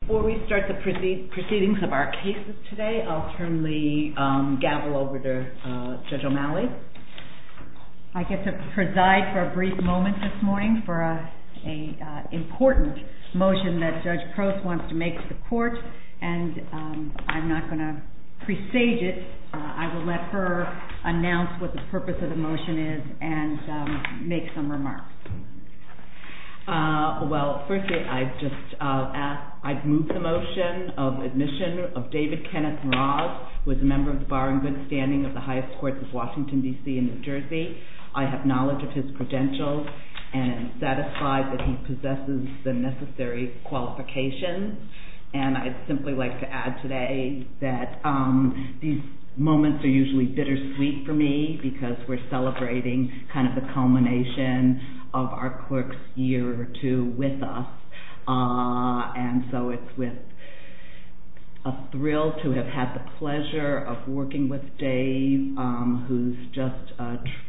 Before we start the proceedings of our cases today, I'll turn the gavel over to Judge O'Malley. I get to preside for a brief moment this morning for an important motion that Judge Crouse wants to make to the Court, and I'm not going to presage it. I will let her announce what the purpose of the motion is and make some remarks. Well, firstly, I'd move the motion of admission of David Kenneth Mraz, who is a member of the Barrington standing of the highest courts of Washington, D.C. and New Jersey. I have knowledge of his credentials and am satisfied that he possesses the necessary qualifications. And I'd simply like to add today that these moments are usually bittersweet for me because we're celebrating kind of the culmination of our clerk's year or two with us. And so it's with a thrill to have had the pleasure of working with Dave, who's just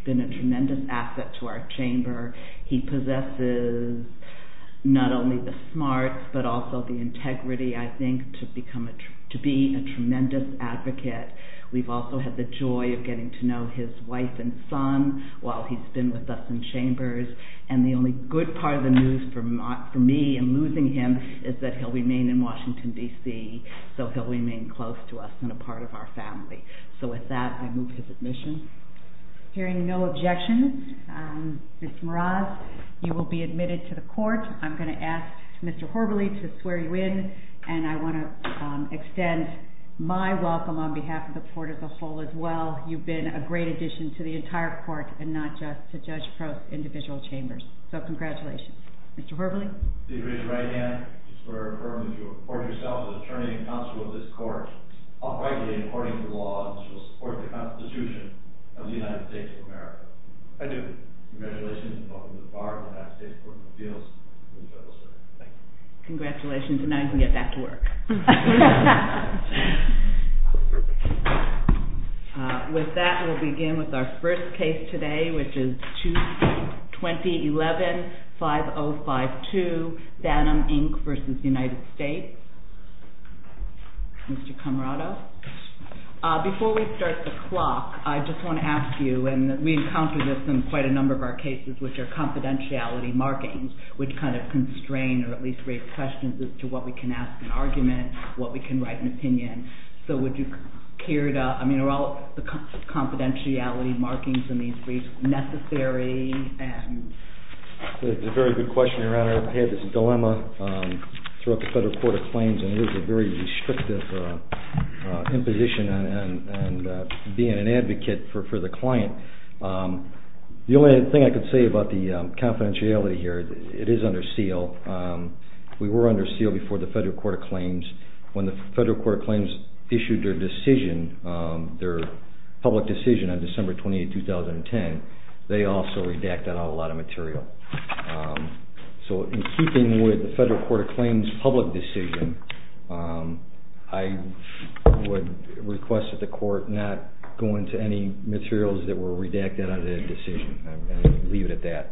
been a tremendous asset to our chamber. He possesses not only the smarts but also the integrity, I think, to be a tremendous advocate. We've also had the joy of getting to know his wife and son while he's been with us in chambers. And the only good part of the news for me in losing him is that he'll remain in Washington, D.C., so he'll remain close to us and a part of our family. So with that, I move his admission. Hearing no objections, Mr. Mraz, you will be admitted to the Court. I'm going to ask Mr. Horvely to swear you in, and I want to extend my welcome on behalf of the Court as a whole as well. You've been a great addition to the entire Court and not just to Judge Prost's individual chambers. So congratulations. Mr. Horvely? I take your right hand. I swear infirmly that you will report yourself as attorney and counsel of this Court, uprightly and according to the law, and shall support the Constitution of the United States of America. I do. Congratulations. Welcome to the Bar and the United States Court of Appeals. Thank you. Congratulations. And now you can get back to work. With that, we'll begin with our first case today, which is 2011-5052, Bannum, Inc. v. United States. Mr. Camarado? Before we start the clock, I just want to ask you, and we encounter this in quite a number of our cases, which are confidentiality markings, which kind of constrain or at least raise questions as to what we can ask an argument, what we can write an opinion. So would you care to – I mean, are all the confidentiality markings in these briefs necessary? That's a very good question, Your Honor. I've had this dilemma throughout the Federal Court of Claims, and there's a very restrictive imposition on being an advocate for the client. The only thing I can say about the confidentiality here, it is under seal. We were under seal before the Federal Court of Claims. When the Federal Court of Claims issued their decision, their public decision on December 28, 2010, they also redacted out a lot of material. So in keeping with the Federal Court of Claims public decision, I would request that the Court not go into any materials that were redacted out of the decision and leave it at that.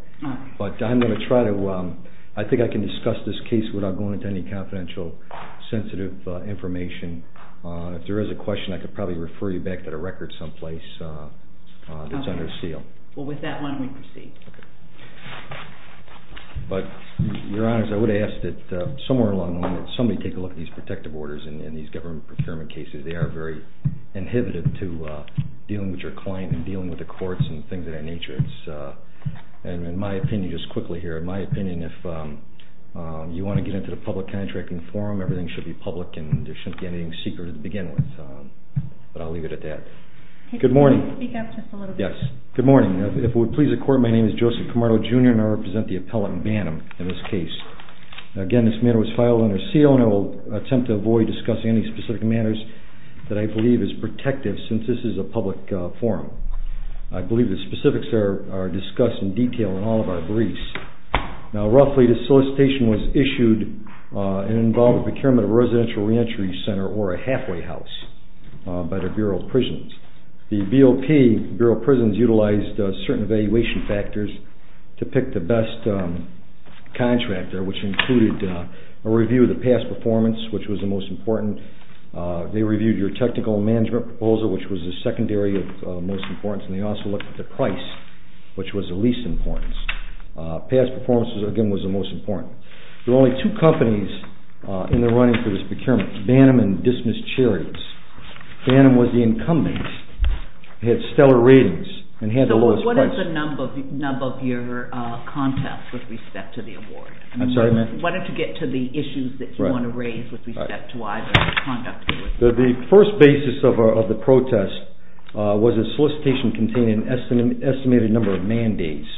But I'm going to try to – I think I can discuss this case without going into any confidential, sensitive information. If there is a question, I could probably refer you back to the record someplace that's under seal. Well, with that, why don't we proceed? But, Your Honor, I would ask that somewhere along the line, somebody take a look at these protective orders in these government procurement cases. They are very inhibitive to dealing with your client and dealing with the courts and things of that nature. And in my opinion, just quickly here, in my opinion, if you want to get into the public contracting forum, everything should be public, and there shouldn't be anything secret to begin with. But I'll leave it at that. Good morning. Speak up just a little bit. Yes. Good morning. If it would please the Court, my name is Joseph Camargo, Jr., and I represent the appellate in Banham in this case. Again, this matter was filed under seal, and I will attempt to avoid discussing any specific matters that I believe is protective since this is a public forum. I believe the specifics are discussed in detail in all of our briefs. Now, roughly, this solicitation was issued and involved with procurement of a residential reentry center or a halfway house by the Bureau of Prisons. The BOP, Bureau of Prisons, utilized certain evaluation factors to pick the best contractor, which included a review of the past performance, which was the most important. They reviewed your technical management proposal, which was the secondary of most importance, and they also looked at the price, which was the least important. Past performance, again, was the most important. There were only two companies in the running for this procurement, Banham and Dismiss Charities. Banham was the incumbent. It had stellar ratings and had the lowest prices. So what is the nub of your contest with respect to the award? I'm sorry, ma'am? I mean, what did you get to the issues that you want to raise with respect to why the conduct was? The first basis of the protest was a solicitation containing an estimated number of mandates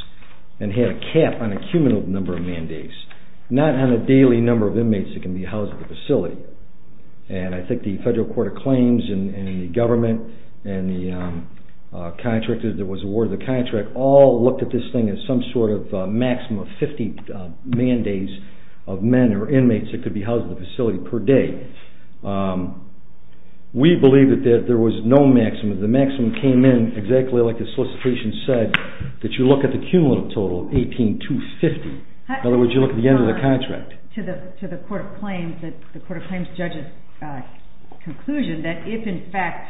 and had a cap on a cumulative number of mandates, not on a daily number of inmates that can be housed at the facility. And I think the federal court of claims and the government and the contractor that was awarded the contract all looked at this thing as some sort of maximum of 50 mandates of men or inmates that could be housed at the facility per day. We believe that there was no maximum. The maximum came in exactly like the solicitation said, that you look at the cumulative total of 18,250. In other words, you look at the end of the contract. To the court of claims judge's conclusion that if, in fact,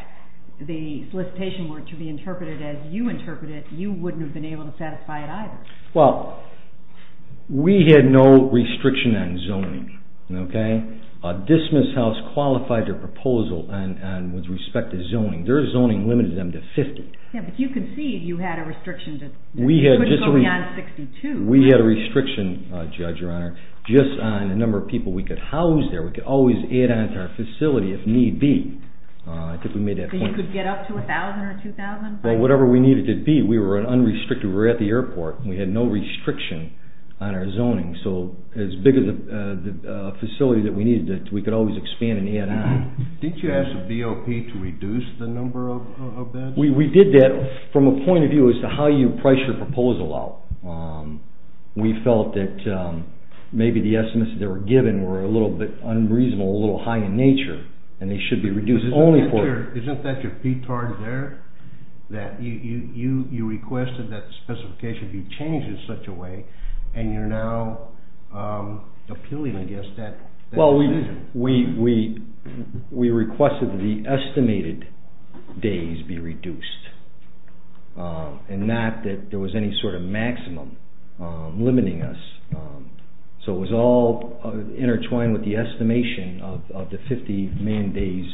the solicitation were to be interpreted as you interpreted it, you wouldn't have been able to satisfy it either. Well, we had no restriction on zoning, okay? Dismiss House qualified their proposal with respect to zoning. Their zoning limited them to 50. Yeah, but you could see you had a restriction that you couldn't go beyond 62. We had a restriction, Judge, Your Honor, just on the number of people we could house there. We could always add on to our facility if need be. I think we made that point. So you could get up to 1,000 or 2,000? Well, whatever we needed it to be, we were unrestricted. We were at the airport and we had no restriction on our zoning. So as big as the facility that we needed, we could always expand and add on. Did you ask the BOP to reduce the number of beds? We did that from a point of view as to how you price your proposal out. We felt that maybe the estimates that they were given were a little bit unreasonable, a little high in nature, and they should be reduced only for them. Isn't that your PTAR there? You requested that the specification be changed in such a way, and you're now appealing, I guess, that decision. We requested that the estimated days be reduced and not that there was any sort of maximum limiting us. So it was all intertwined with the estimation of the 50 million days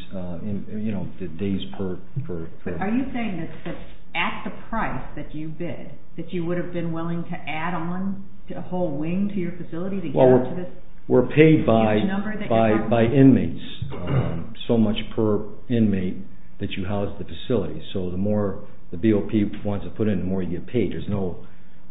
per. Are you saying that at the price that you bid, that you would have been willing to add on a whole wing to your facility to get to this huge number by inmates, so much per inmate that you housed the facility. So the more the BOP wants to put in, the more you get paid. There's no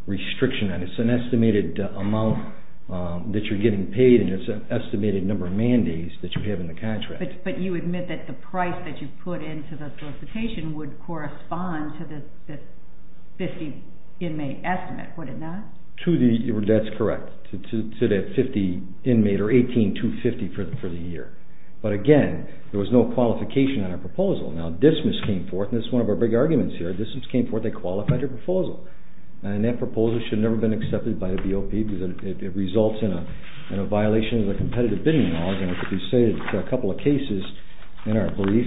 restriction on it. It's an estimated amount that you're getting paid, and it's an estimated number of man days that you have in the contract. But you admit that the price that you put into the solicitation would correspond to this 50 inmate estimate, would it not? That's correct. To that 50 inmate or 18 to 50 for the year. But again, there was no qualification on our proposal. Now DSMIS came forth, and this is one of our big arguments here, DSMIS came forth, they qualified your proposal. And that proposal should have never been accepted by the BOP because it results in a violation of the competitive bidding laws. And as we say in a couple of cases in our brief,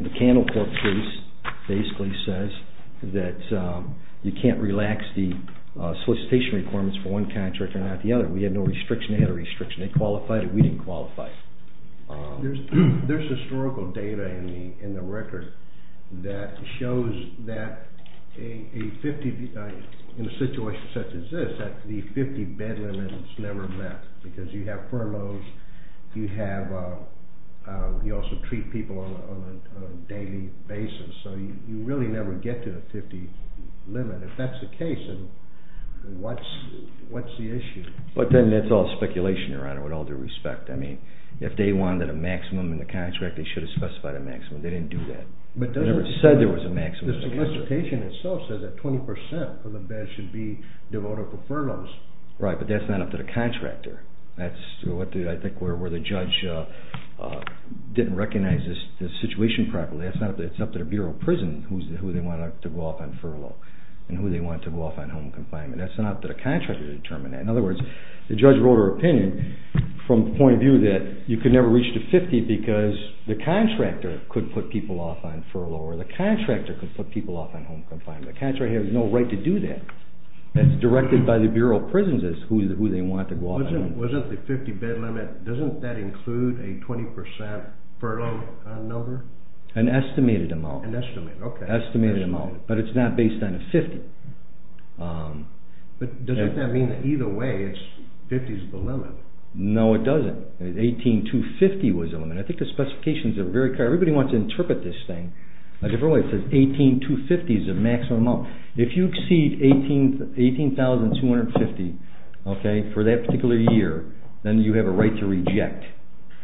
the Candle Corps case basically says that you can't relax the solicitation requirements for one contract or not the other. We had no restriction. They had a restriction. They qualified it. We didn't qualify it. There's historical data in the record that shows that a 50, in a situation such as this, that the 50 bed limit is never met because you have furloughs, you also treat people on a daily basis, so you really never get to the 50 limit. If that's the case, then what's the issue? But then that's all speculation, Your Honor, with all due respect. I mean, if they wanted a maximum in the contract, they should have specified a maximum. They didn't do that. They never said there was a maximum. The solicitation itself says that 20 percent of the beds should be devoted for furloughs. Right, but that's not up to the contractor. That's, I think, where the judge didn't recognize this situation properly. It's up to the Bureau of Prison who they want to go off on furlough and who they want to go off on home confinement. That's not up to the contractor to determine that. In other words, the judge wrote her opinion from the point of view that you could never reach the 50 because the contractor could put people off on furlough or the contractor could put people off on home confinement. The contractor has no right to do that. It's directed by the Bureau of Prisons who they want to go off on. Wasn't the 50-bed limit, doesn't that include a 20 percent furlough number? An estimated amount. An estimated, okay. Estimated amount, but it's not based on a 50. But doesn't that mean that either way, 50 is the limit? No, it doesn't. 18,250 was the limit. I think the specifications are very clear. Everybody wants to interpret this thing a different way. It says 18,250 is the maximum amount. If you exceed 18,250 for that particular year, then you have a right to reject.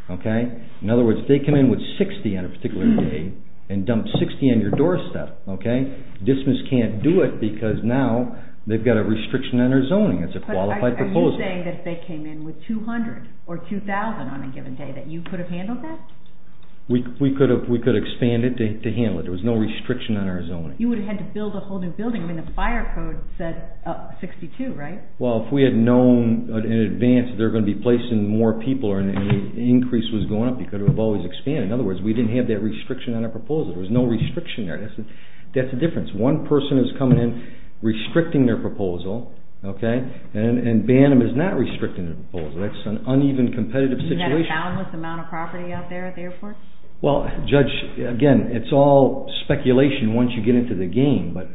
In other words, if they come in with 60 on a particular day and dump 60 on your doorstep, DSMIS can't do it because now they've got a restriction on their zoning. It's a qualified proposal. Are you saying that if they came in with 200 or 2,000 on a given day that you could have handled that? We could have expanded to handle it. There was no restriction on our zoning. You would have had to build a whole new building. I mean, the fire code said 62, right? Well, if we had known in advance that they were going to be placing more people and the increase was going up, you could have always expanded. In other words, we didn't have that restriction on our proposal. There was no restriction there. That's the difference. One person is coming in restricting their proposal, okay, and Bantam is not restricting their proposal. That's an uneven competitive situation. Is that a boundless amount of property out there at the airport? Well, Judge, again, it's all speculation. Once you get into the game, but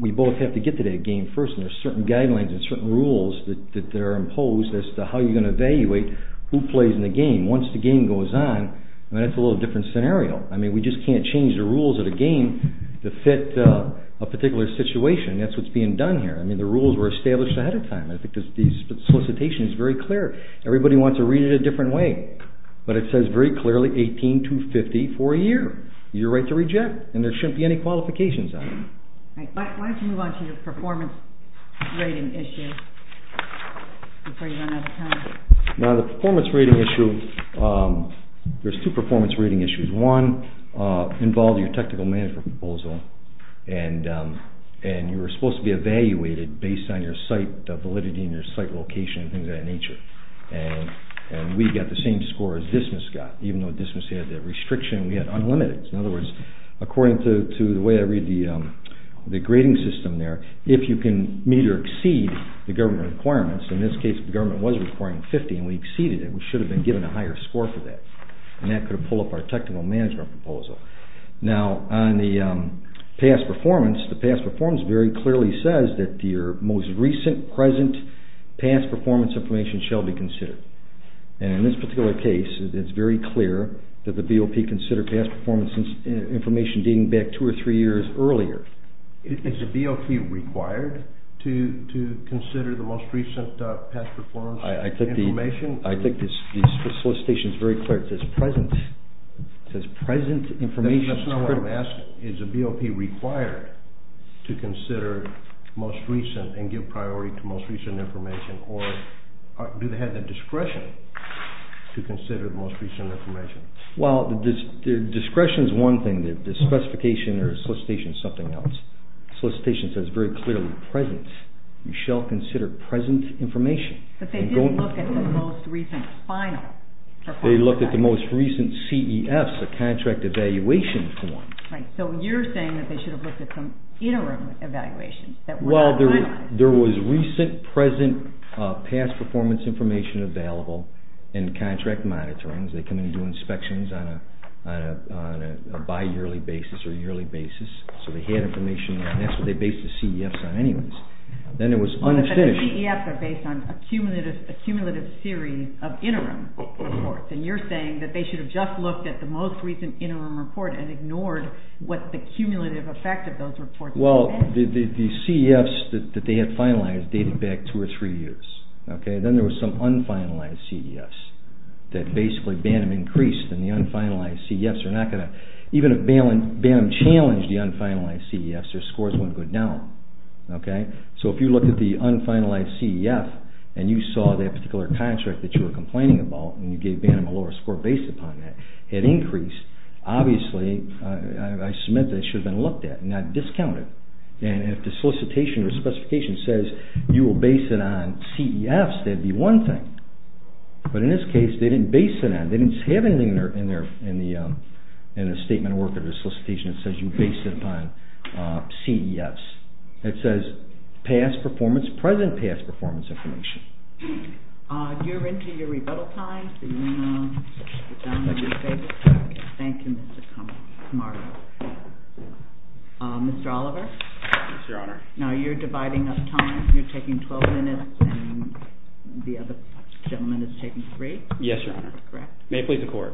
we both have to get to that game first, and there are certain guidelines and certain rules that are imposed as to how you're going to evaluate who plays in the game. Once the game goes on, that's a little different scenario. I mean, we just can't change the rules of the game to fit a particular situation. That's what's being done here. I mean, the rules were established ahead of time. I think the solicitation is very clear. Everybody wants to read it a different way, but it says very clearly 18-250 for a year. You're right to reject, and there shouldn't be any qualifications on it. Why don't you move on to your performance rating issue before you run out of time? Now, the performance rating issue, there's two performance rating issues. One involves your technical management proposal, and you were supposed to be evaluated based on your site validity and your site location and things of that nature. And we got the same score as Dismas got, even though Dismas had the restriction. We had unlimited. In other words, according to the way I read the grading system there, if you can meet or exceed the government requirements, in this case the government was requiring 50, and we exceeded it, we should have been given a higher score for that, and that could have pulled up our technical management proposal. Now, on the past performance, the past performance very clearly says that your most recent present past performance information shall be considered. And in this particular case, it's very clear that the BOP considered past performance information dating back two or three years earlier. Is a BOP required to consider the most recent past performance information? I think the solicitation is very clear. It says present information is critical. That's not what I'm asking. Is a BOP required to consider most recent and give priority to most recent information, or do they have the discretion to consider the most recent information? Well, discretion is one thing. The specification or solicitation is something else. The solicitation says very clearly present. You shall consider present information. But they didn't look at the most recent final performance. They looked at the most recent CEFs, the contract evaluation form. Right. So you're saying that they should have looked at some interim evaluations. Well, there was recent present past performance information available in contract monitorings. They come in and do inspections on a bi-yearly basis or yearly basis. So they had information, and that's what they based the CEFs on anyways. Then it was unabstinished. But the CEFs are based on a cumulative series of interim reports, and you're saying that they should have just looked at the most recent interim report and ignored what the cumulative effect of those reports was. Well, the CEFs that they had finalized dated back two or three years. Then there was some un-finalized CEFs that basically Bantam increased, and the un-finalized CEFs are not going to. Even if Bantam challenged the un-finalized CEFs, their scores wouldn't go down. So if you look at the un-finalized CEF and you saw that particular contract that you were complaining about, and you gave Bantam a lower score based upon that, it increased. Obviously, I submit that it should have been looked at and not discounted. And if the solicitation or specification says you will base it on CEFs, that would be one thing. But in this case, they didn't base it on it. They didn't say anything in the statement or work of the solicitation that says you base it upon CEFs. It says past performance, present past performance information. You're into your rebuttal time, so do you want to get down on your feet? Thank you, Mr. Mark. Mr. Oliver? Yes, Your Honor. Now you're dividing up time. You're taking 12 minutes and the other gentleman is taking three? Yes, Your Honor. May it please the Court.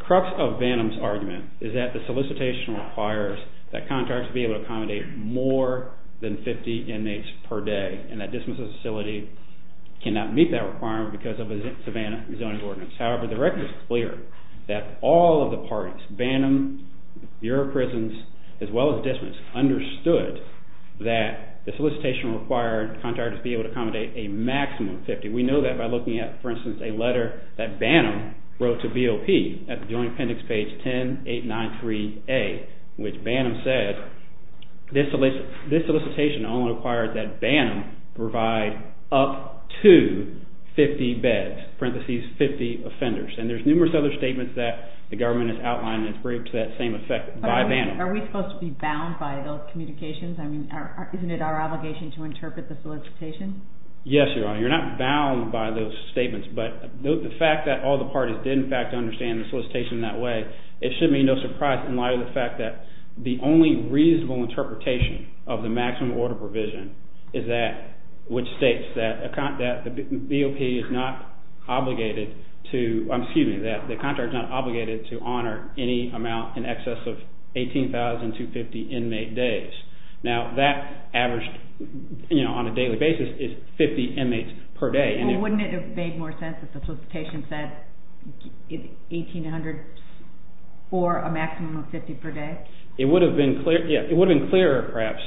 Crux of Bantam's argument is that the solicitation requires that contracts be able to accommodate more than 50 inmates per day, and that dismissal facility cannot meet that requirement because of a Savannah zoning ordinance. However, the record is clear that all of the parties, Bantam, Bureau of Prisons, as well as dismiss, understood that the solicitation required contracts be able to accommodate a maximum of 50. We know that by looking at, for instance, a letter that Bantam wrote to BOP at the Joint Appendix page 10893A, which Bantam said, this solicitation only requires that Bantam provide up to 50 beds, parentheses, 50 offenders. And there's numerous other statements that the government has outlined that's briefed to that same effect by Bantam. Are we supposed to be bound by those communications? I mean, isn't it our obligation to interpret the solicitation? Yes, Your Honor. You're not bound by those statements, but the fact that all the parties did, in fact, understand the solicitation in that way, it should be no surprise in light of the fact that the only reasonable interpretation of the maximum order provision is that which states that the BOP is not obligated to honor any amount in excess of 18,250 inmate days. Now, that averaged on a daily basis is 50 inmates per day. Wouldn't it have made more sense if the solicitation said 1,800 for a maximum of 50 per day? It would have been clearer, perhaps,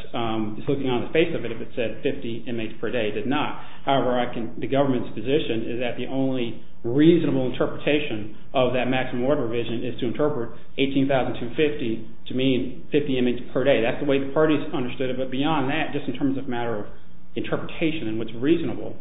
just looking on the face of it, if it said 50 inmates per day. It did not. However, the government's position is that the only reasonable interpretation of that maximum order provision is to interpret 18,250 to mean 50 inmates per day. That's the way the parties understood it, but beyond that, just in terms of matter of interpretation and what's reasonable,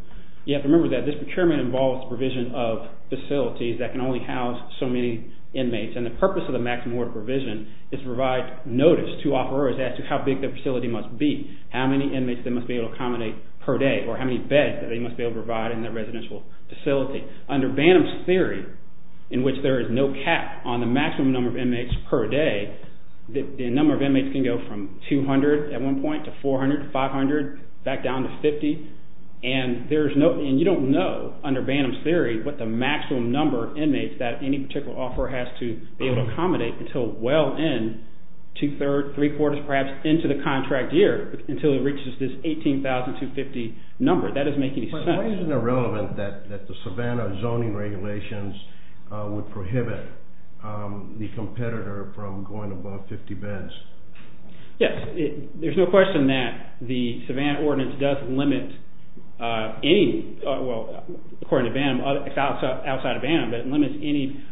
you have to remember that this procurement involves the provision of facilities that can only house so many inmates, and the purpose of the maximum order provision is to provide notice to offerors as to how big the facility must be, how many inmates they must be able to accommodate per day, or how many beds that they must be able to provide in their residential facility. Under Banham's theory, in which there is no cap on the maximum number of inmates per day, the number of inmates can go from 200 at one point to 400 to 500, back down to 50, and you don't know, under Banham's theory, what the maximum number of inmates that any particular offeror has to be able to accommodate until well in, two-thirds, three-quarters, perhaps, into the contract year until it reaches this 18,250 number. That doesn't make any sense. Why isn't it relevant that the Savannah zoning regulations would prohibit the competitor from going above 50 beds? Yes, there's no question that the Savannah ordinance does limit any, well, according to Banham, it's outside of Banham, but it limits any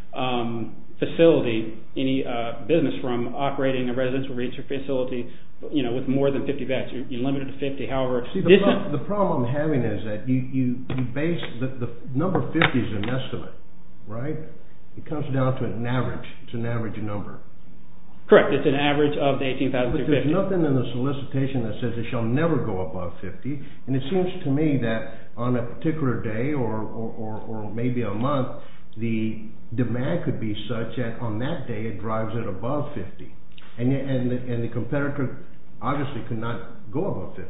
facility, any business from operating a residential facility with more than 50 beds. You limit it to 50, however... See, the problem I'm having is that you base, the number 50 is an estimate, right? It comes down to an average, it's an average number. Correct, it's an average of the 18,250. But there's nothing in the solicitation that says it shall never go above 50, and it seems to me that on a particular day or maybe a month, the demand could be such that on that day it drives it above 50. And the competitor obviously could not go above 50.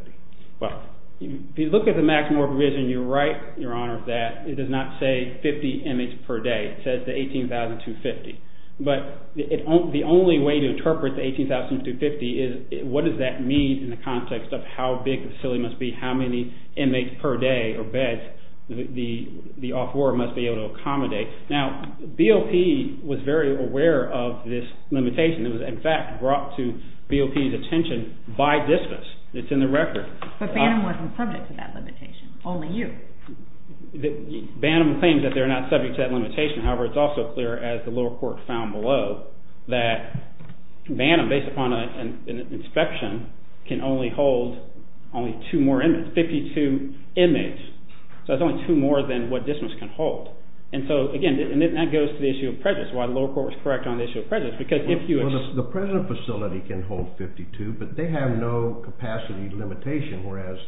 Well, if you look at the maximum provision, you're right, Your Honor, that it does not say 50 inmates per day. It says the 18,250. But the only way to interpret the 18,250 is what does that mean in the context of how big the facility must be, how many inmates per day or beds the off-ward must be able to accommodate. Now, BOP was very aware of this limitation. It was, in fact, brought to BOP's attention by dismiss, it's in the record. But Banham wasn't subject to that limitation, only you. Banham claims that they're not subject to that limitation. However, it's also clear, as the lower court found below, that Banham, based upon an inspection, can only hold only two more inmates, 52 inmates. So it's only two more than what dismiss can hold. And so, again, that goes to the issue of prejudice, why the lower court was correct on the issue of prejudice, because if you... Well, the present facility can hold 52, but they have no capacity limitation, whereas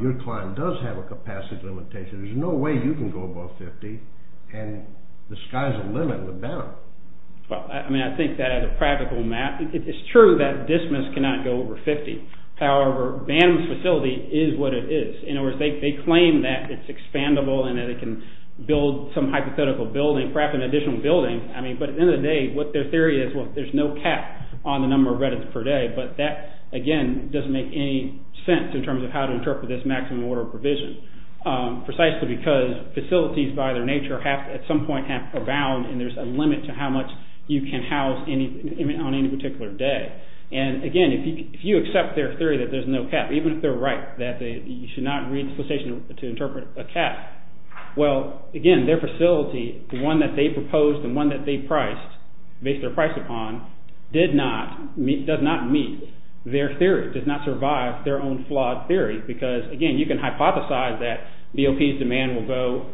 your client does have a capacity limitation. There's no way you can go above 50 and the sky's the limit with Banham. Well, I mean, I think that as a practical map, it's true that dismiss cannot go over 50. However, Banham's facility is what it is. In other words, they claim that it's expandable and that it can build some hypothetical building, perhaps an additional building. I mean, but at the end of the day, what their theory is, well, there's no cap on the number of reddits per day. But that, again, doesn't make any sense in terms of how to interpret this maximum order of provision, precisely because facilities, by their nature, at some point are bound and there's a limit to how much you can house on any particular day. And, again, if you accept their theory that there's no cap, even if they're right, that you should not read the solicitation to interpret a cap, well, again, their facility, the one that they proposed and the one that they priced, based their price upon, does not meet their theory, does not survive their own flawed theory, because, again, you can hypothesize that BOP's demand will go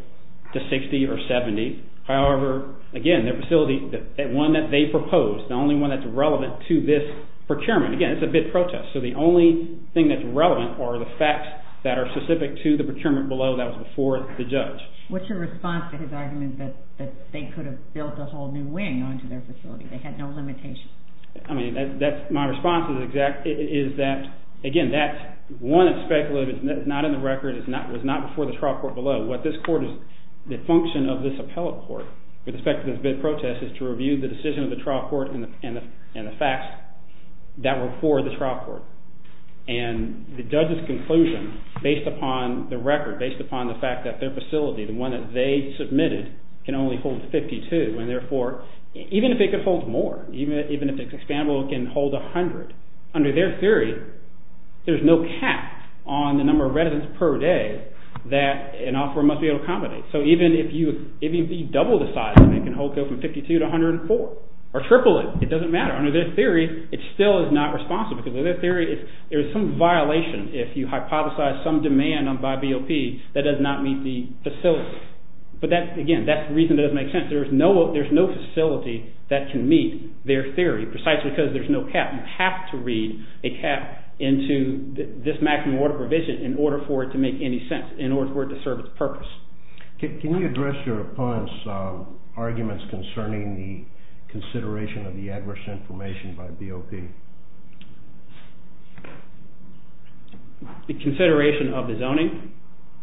to 60 or 70. However, again, their facility, the one that they proposed, the only one that's relevant to this procurement, again, it's a bid protest, so the only thing that's relevant are the facts that are specific to the procurement below that was before the judge. What's your response to his argument that they could have built a whole new wing onto their facility, they had no limitation? I mean, my response is that, again, that's one aspect of it that's not in the record, it was not before the trial court below. What this court is, the function of this appellate court with respect to this bid protest is to review the decision of the trial court and the facts that were before the trial court. And the judge's conclusion, based upon the record, based upon the fact that their facility, the one that they submitted, can only hold 52, and therefore, even if it could hold more, even if it's expandable, it can hold 100. Under their theory, there's no cap on the number of residents per day that an offeror must be able to accommodate. So even if you double the size, it can hold from 52 to 104, or triple it, it doesn't matter. Under their theory, it still is not responsible, because under their theory, there is some violation if you hypothesize some demand by BOP that does not meet the facility. But that's, again, that's the reason it doesn't make sense. There's no facility that can meet their theory, precisely because there's no cap. You have to read a cap into this maximum order provision in order for it to make any sense, in order for it to serve its purpose. Can you address your opponent's arguments concerning the consideration of the adverse information by BOP? The consideration of the zoning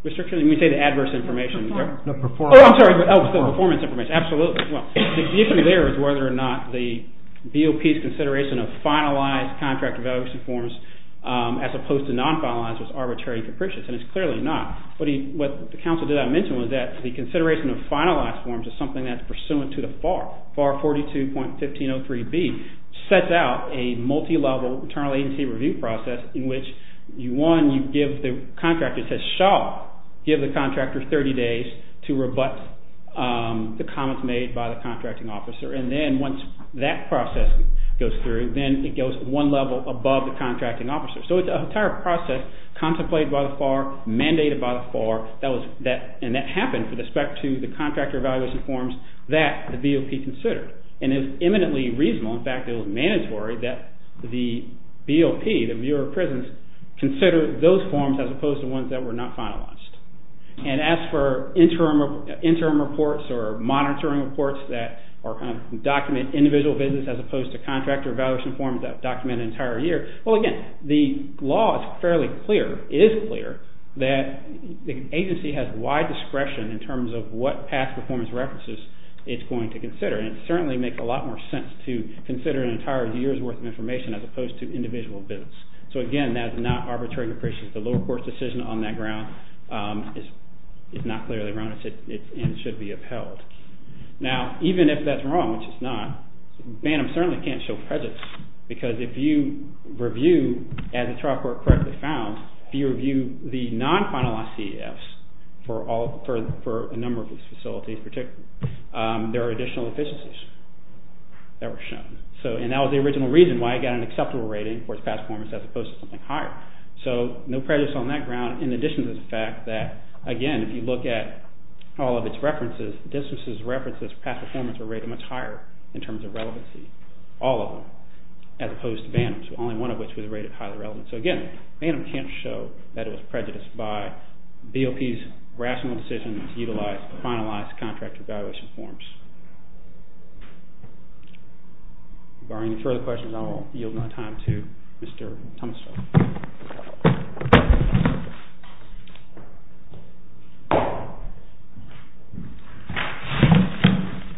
restriction? You mean, say, the adverse information? No, performance. Oh, I'm sorry. Oh, the performance information, absolutely. Well, the issue there is whether or not the BOP's consideration of finalized contract evaluation forms, as opposed to non-finalized, is arbitrary and capricious, and it's clearly not. But what the counsel did not mention was that the consideration of finalized forms is something that's pursuant to the FAR. FAR 42.1503B sets out a multi-level internal agency review process in which, one, you give the contractor, it says Shaw, give the contractor 30 days to rebut the comments made by the contracting officer, and then once that process goes through, then it goes one level above the contracting officer. So it's an entire process contemplated by the FAR, mandated by the FAR, and that happened with respect to the contractor evaluation forms that the BOP considered. And it was eminently reasonable, in fact it was mandatory, that the BOP, the Bureau of Prisons, consider those forms as opposed to ones that were not finalized. And as for interim reports or monitoring reports that document individual business as opposed to contractor evaluation forms that document an entire year, well again, the law is fairly clear, it is clear, that the agency has wide discretion in terms of what past performance references it's going to consider, and it certainly makes a lot more sense to consider an entire year's worth of information as opposed to individual business. So again, that's not arbitrary depreciation. The lower court's decision on that ground is not clearly wrong and should be upheld. Now, even if that's wrong, which it's not, BANM certainly can't show prejudice because if you review, as the trial court correctly found, if you review the non-finalized CEFs for a number of these facilities particularly, there are additional efficiencies that were shown. And that was the original reason why it got an acceptable rating for its past performance as opposed to something higher. So, no prejudice on that ground in addition to the fact that, again, if you look at all of its references, distances, references, past performance were rated much higher in terms of relevancy. All of them. As opposed to BANM, so only one of which was rated highly relevant. So again, BANM can't show that it was prejudiced by BOP's rational decision to utilize finalized contract evaluation forms. If there are any further questions, I will yield my time to Mr. Tunstall.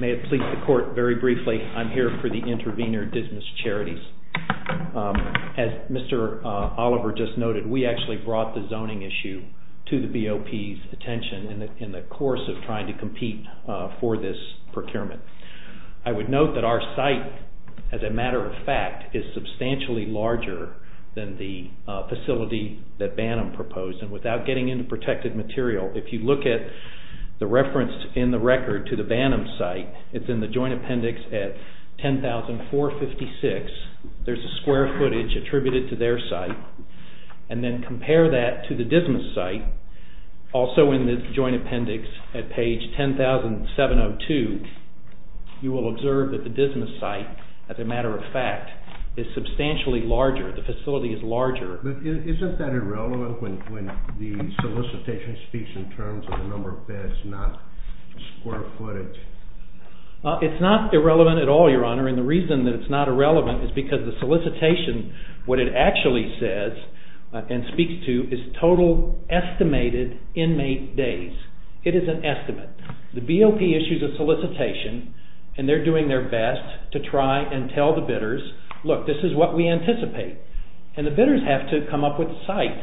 May it please the court, very briefly, I'm here for the Intervenor Dismissed Charities. As Mr. Oliver just noted, we actually brought the zoning issue to the BOP's attention in the course of trying to compete for this procurement. I would note that our site, as a matter of fact, is substantially larger than the facility that BANM proposed. And without getting into protected material, if you look at the reference in the record to the BANM site, it's in the joint appendix at 10,456. There's a square footage attributed to their site. And then compare that to the Dismissed site, also in the joint appendix at page 10,702, you will observe that the Dismissed site, as a matter of fact, is substantially larger. The facility is larger. Isn't that irrelevant when the solicitation speaks in terms of the number of beds, and it's not square footage? It's not irrelevant at all, Your Honor. And the reason that it's not irrelevant is because the solicitation, what it actually says and speaks to is total estimated inmate days. It is an estimate. The BOP issues a solicitation, and they're doing their best to try and tell the bidders, look, this is what we anticipate. And the bidders have to come up with site,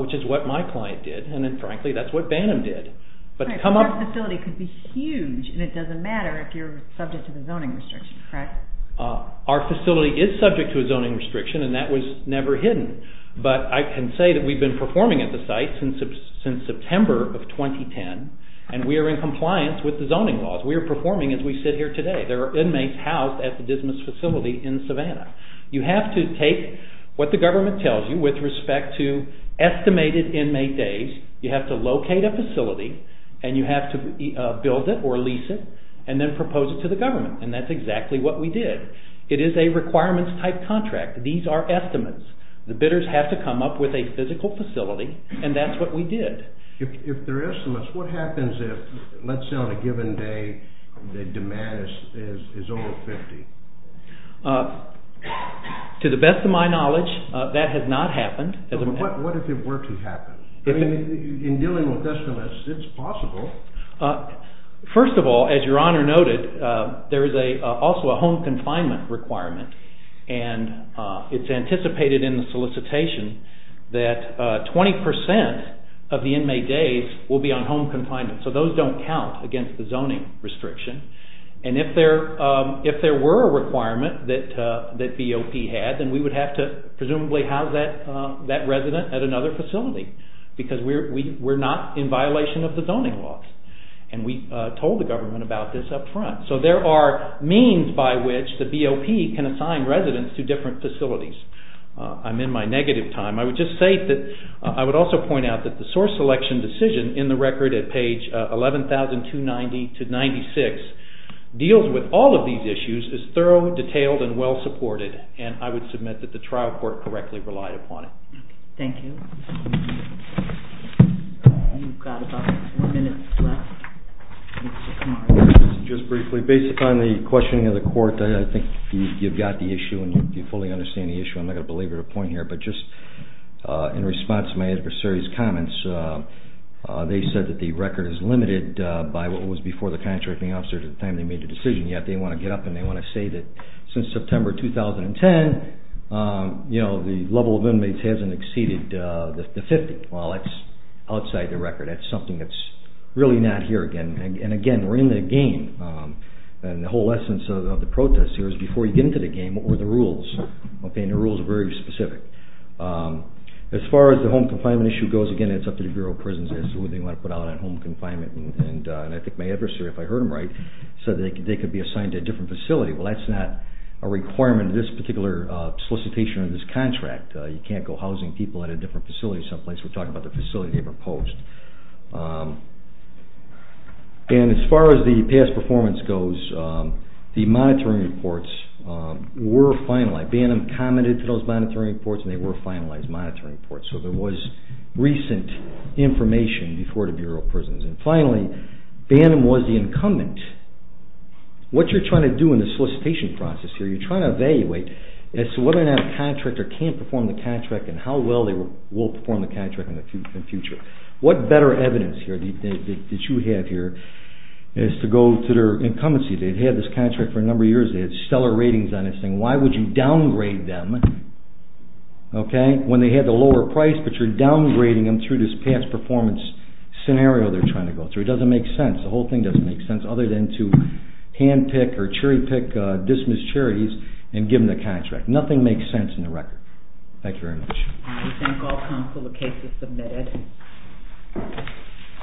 which is what my client did. And then, frankly, that's what Bantam did. But to come up... But that facility could be huge, and it doesn't matter if you're subject to the zoning restriction, right? Our facility is subject to a zoning restriction, and that was never hidden. But I can say that we've been performing at the site since September of 2010, and we are in compliance with the zoning laws. We are performing as we sit here today. There are inmates housed at the Dismissed facility in Savannah. You have to take what the government tells you with respect to estimated inmate days You have to locate a facility, and you have to build it or lease it, and then propose it to the government. And that's exactly what we did. It is a requirements-type contract. These are estimates. The bidders have to come up with a physical facility, and that's what we did. If there are estimates, what happens if, let's say on a given day, the demand is over 50? To the best of my knowledge, that has not happened. What if it were to happen? In dealing with estimates, it's possible. First of all, as your Honor noted, there is also a home confinement requirement, and it's anticipated in the solicitation that 20% of the inmate days will be on home confinement, so those don't count against the zoning restriction. And if there were a requirement that BOP had, then we would have to presumably house that resident at another facility because we're not in violation of the zoning laws. And we told the government about this up front. So there are means by which the BOP can assign residents to different facilities. I'm in my negative time. I would just say that I would also point out that the source selection decision in the record at page 11,290-96 deals with all of these issues as thorough, detailed, and well-supported, and I would submit that the trial court correctly relied upon it. Thank you. Just briefly, based upon the questioning of the court, I think you've got the issue and you fully understand the issue. I'm not going to belabor the point here, but just in response to my adversary's comments, they said that the record is limited by what was before the contracting officers at the time they made the decision, yet they want to get up and they want to say that since September 2010, you know, the level of inmates hasn't exceeded the 50. Well, that's outside the record. That's something that's really not here again. And again, we're in the game, and the whole essence of the protest here is before you get into the game, what were the rules? Okay, and the rules are very specific. As far as the home confinement issue goes, again, it's up to the Bureau of Prisons as to what they want to put out on home confinement, and I think my adversary, if I heard him right, said they could be assigned to a different facility. Well, that's not a requirement of this particular solicitation or this contract. You can't go housing people at a different facility someplace. We're talking about the facility they proposed. And as far as the past performance goes, the monitoring reports were finalized. Bantam commented to those monitoring reports and they were finalized monitoring reports, so there was recent information before the Bureau of Prisons. Bantam was the incumbent. What you're trying to do in the solicitation process here, you're trying to evaluate as to whether or not the contractor can't perform the contract and how well they will perform the contract in the future. What better evidence that you have here is to go to their incumbencies. They've had this contract for a number of years. They had stellar ratings on this thing. Why would you downgrade them when they had the lower price, but you're downgrading them through this past performance scenario they're trying to go through. It doesn't make sense. The whole thing doesn't make sense other than to handpick or cherry pick dismissed charities and give them the contract. Nothing makes sense in the record. Thank you very much. I thank all counsel for the case you submitted.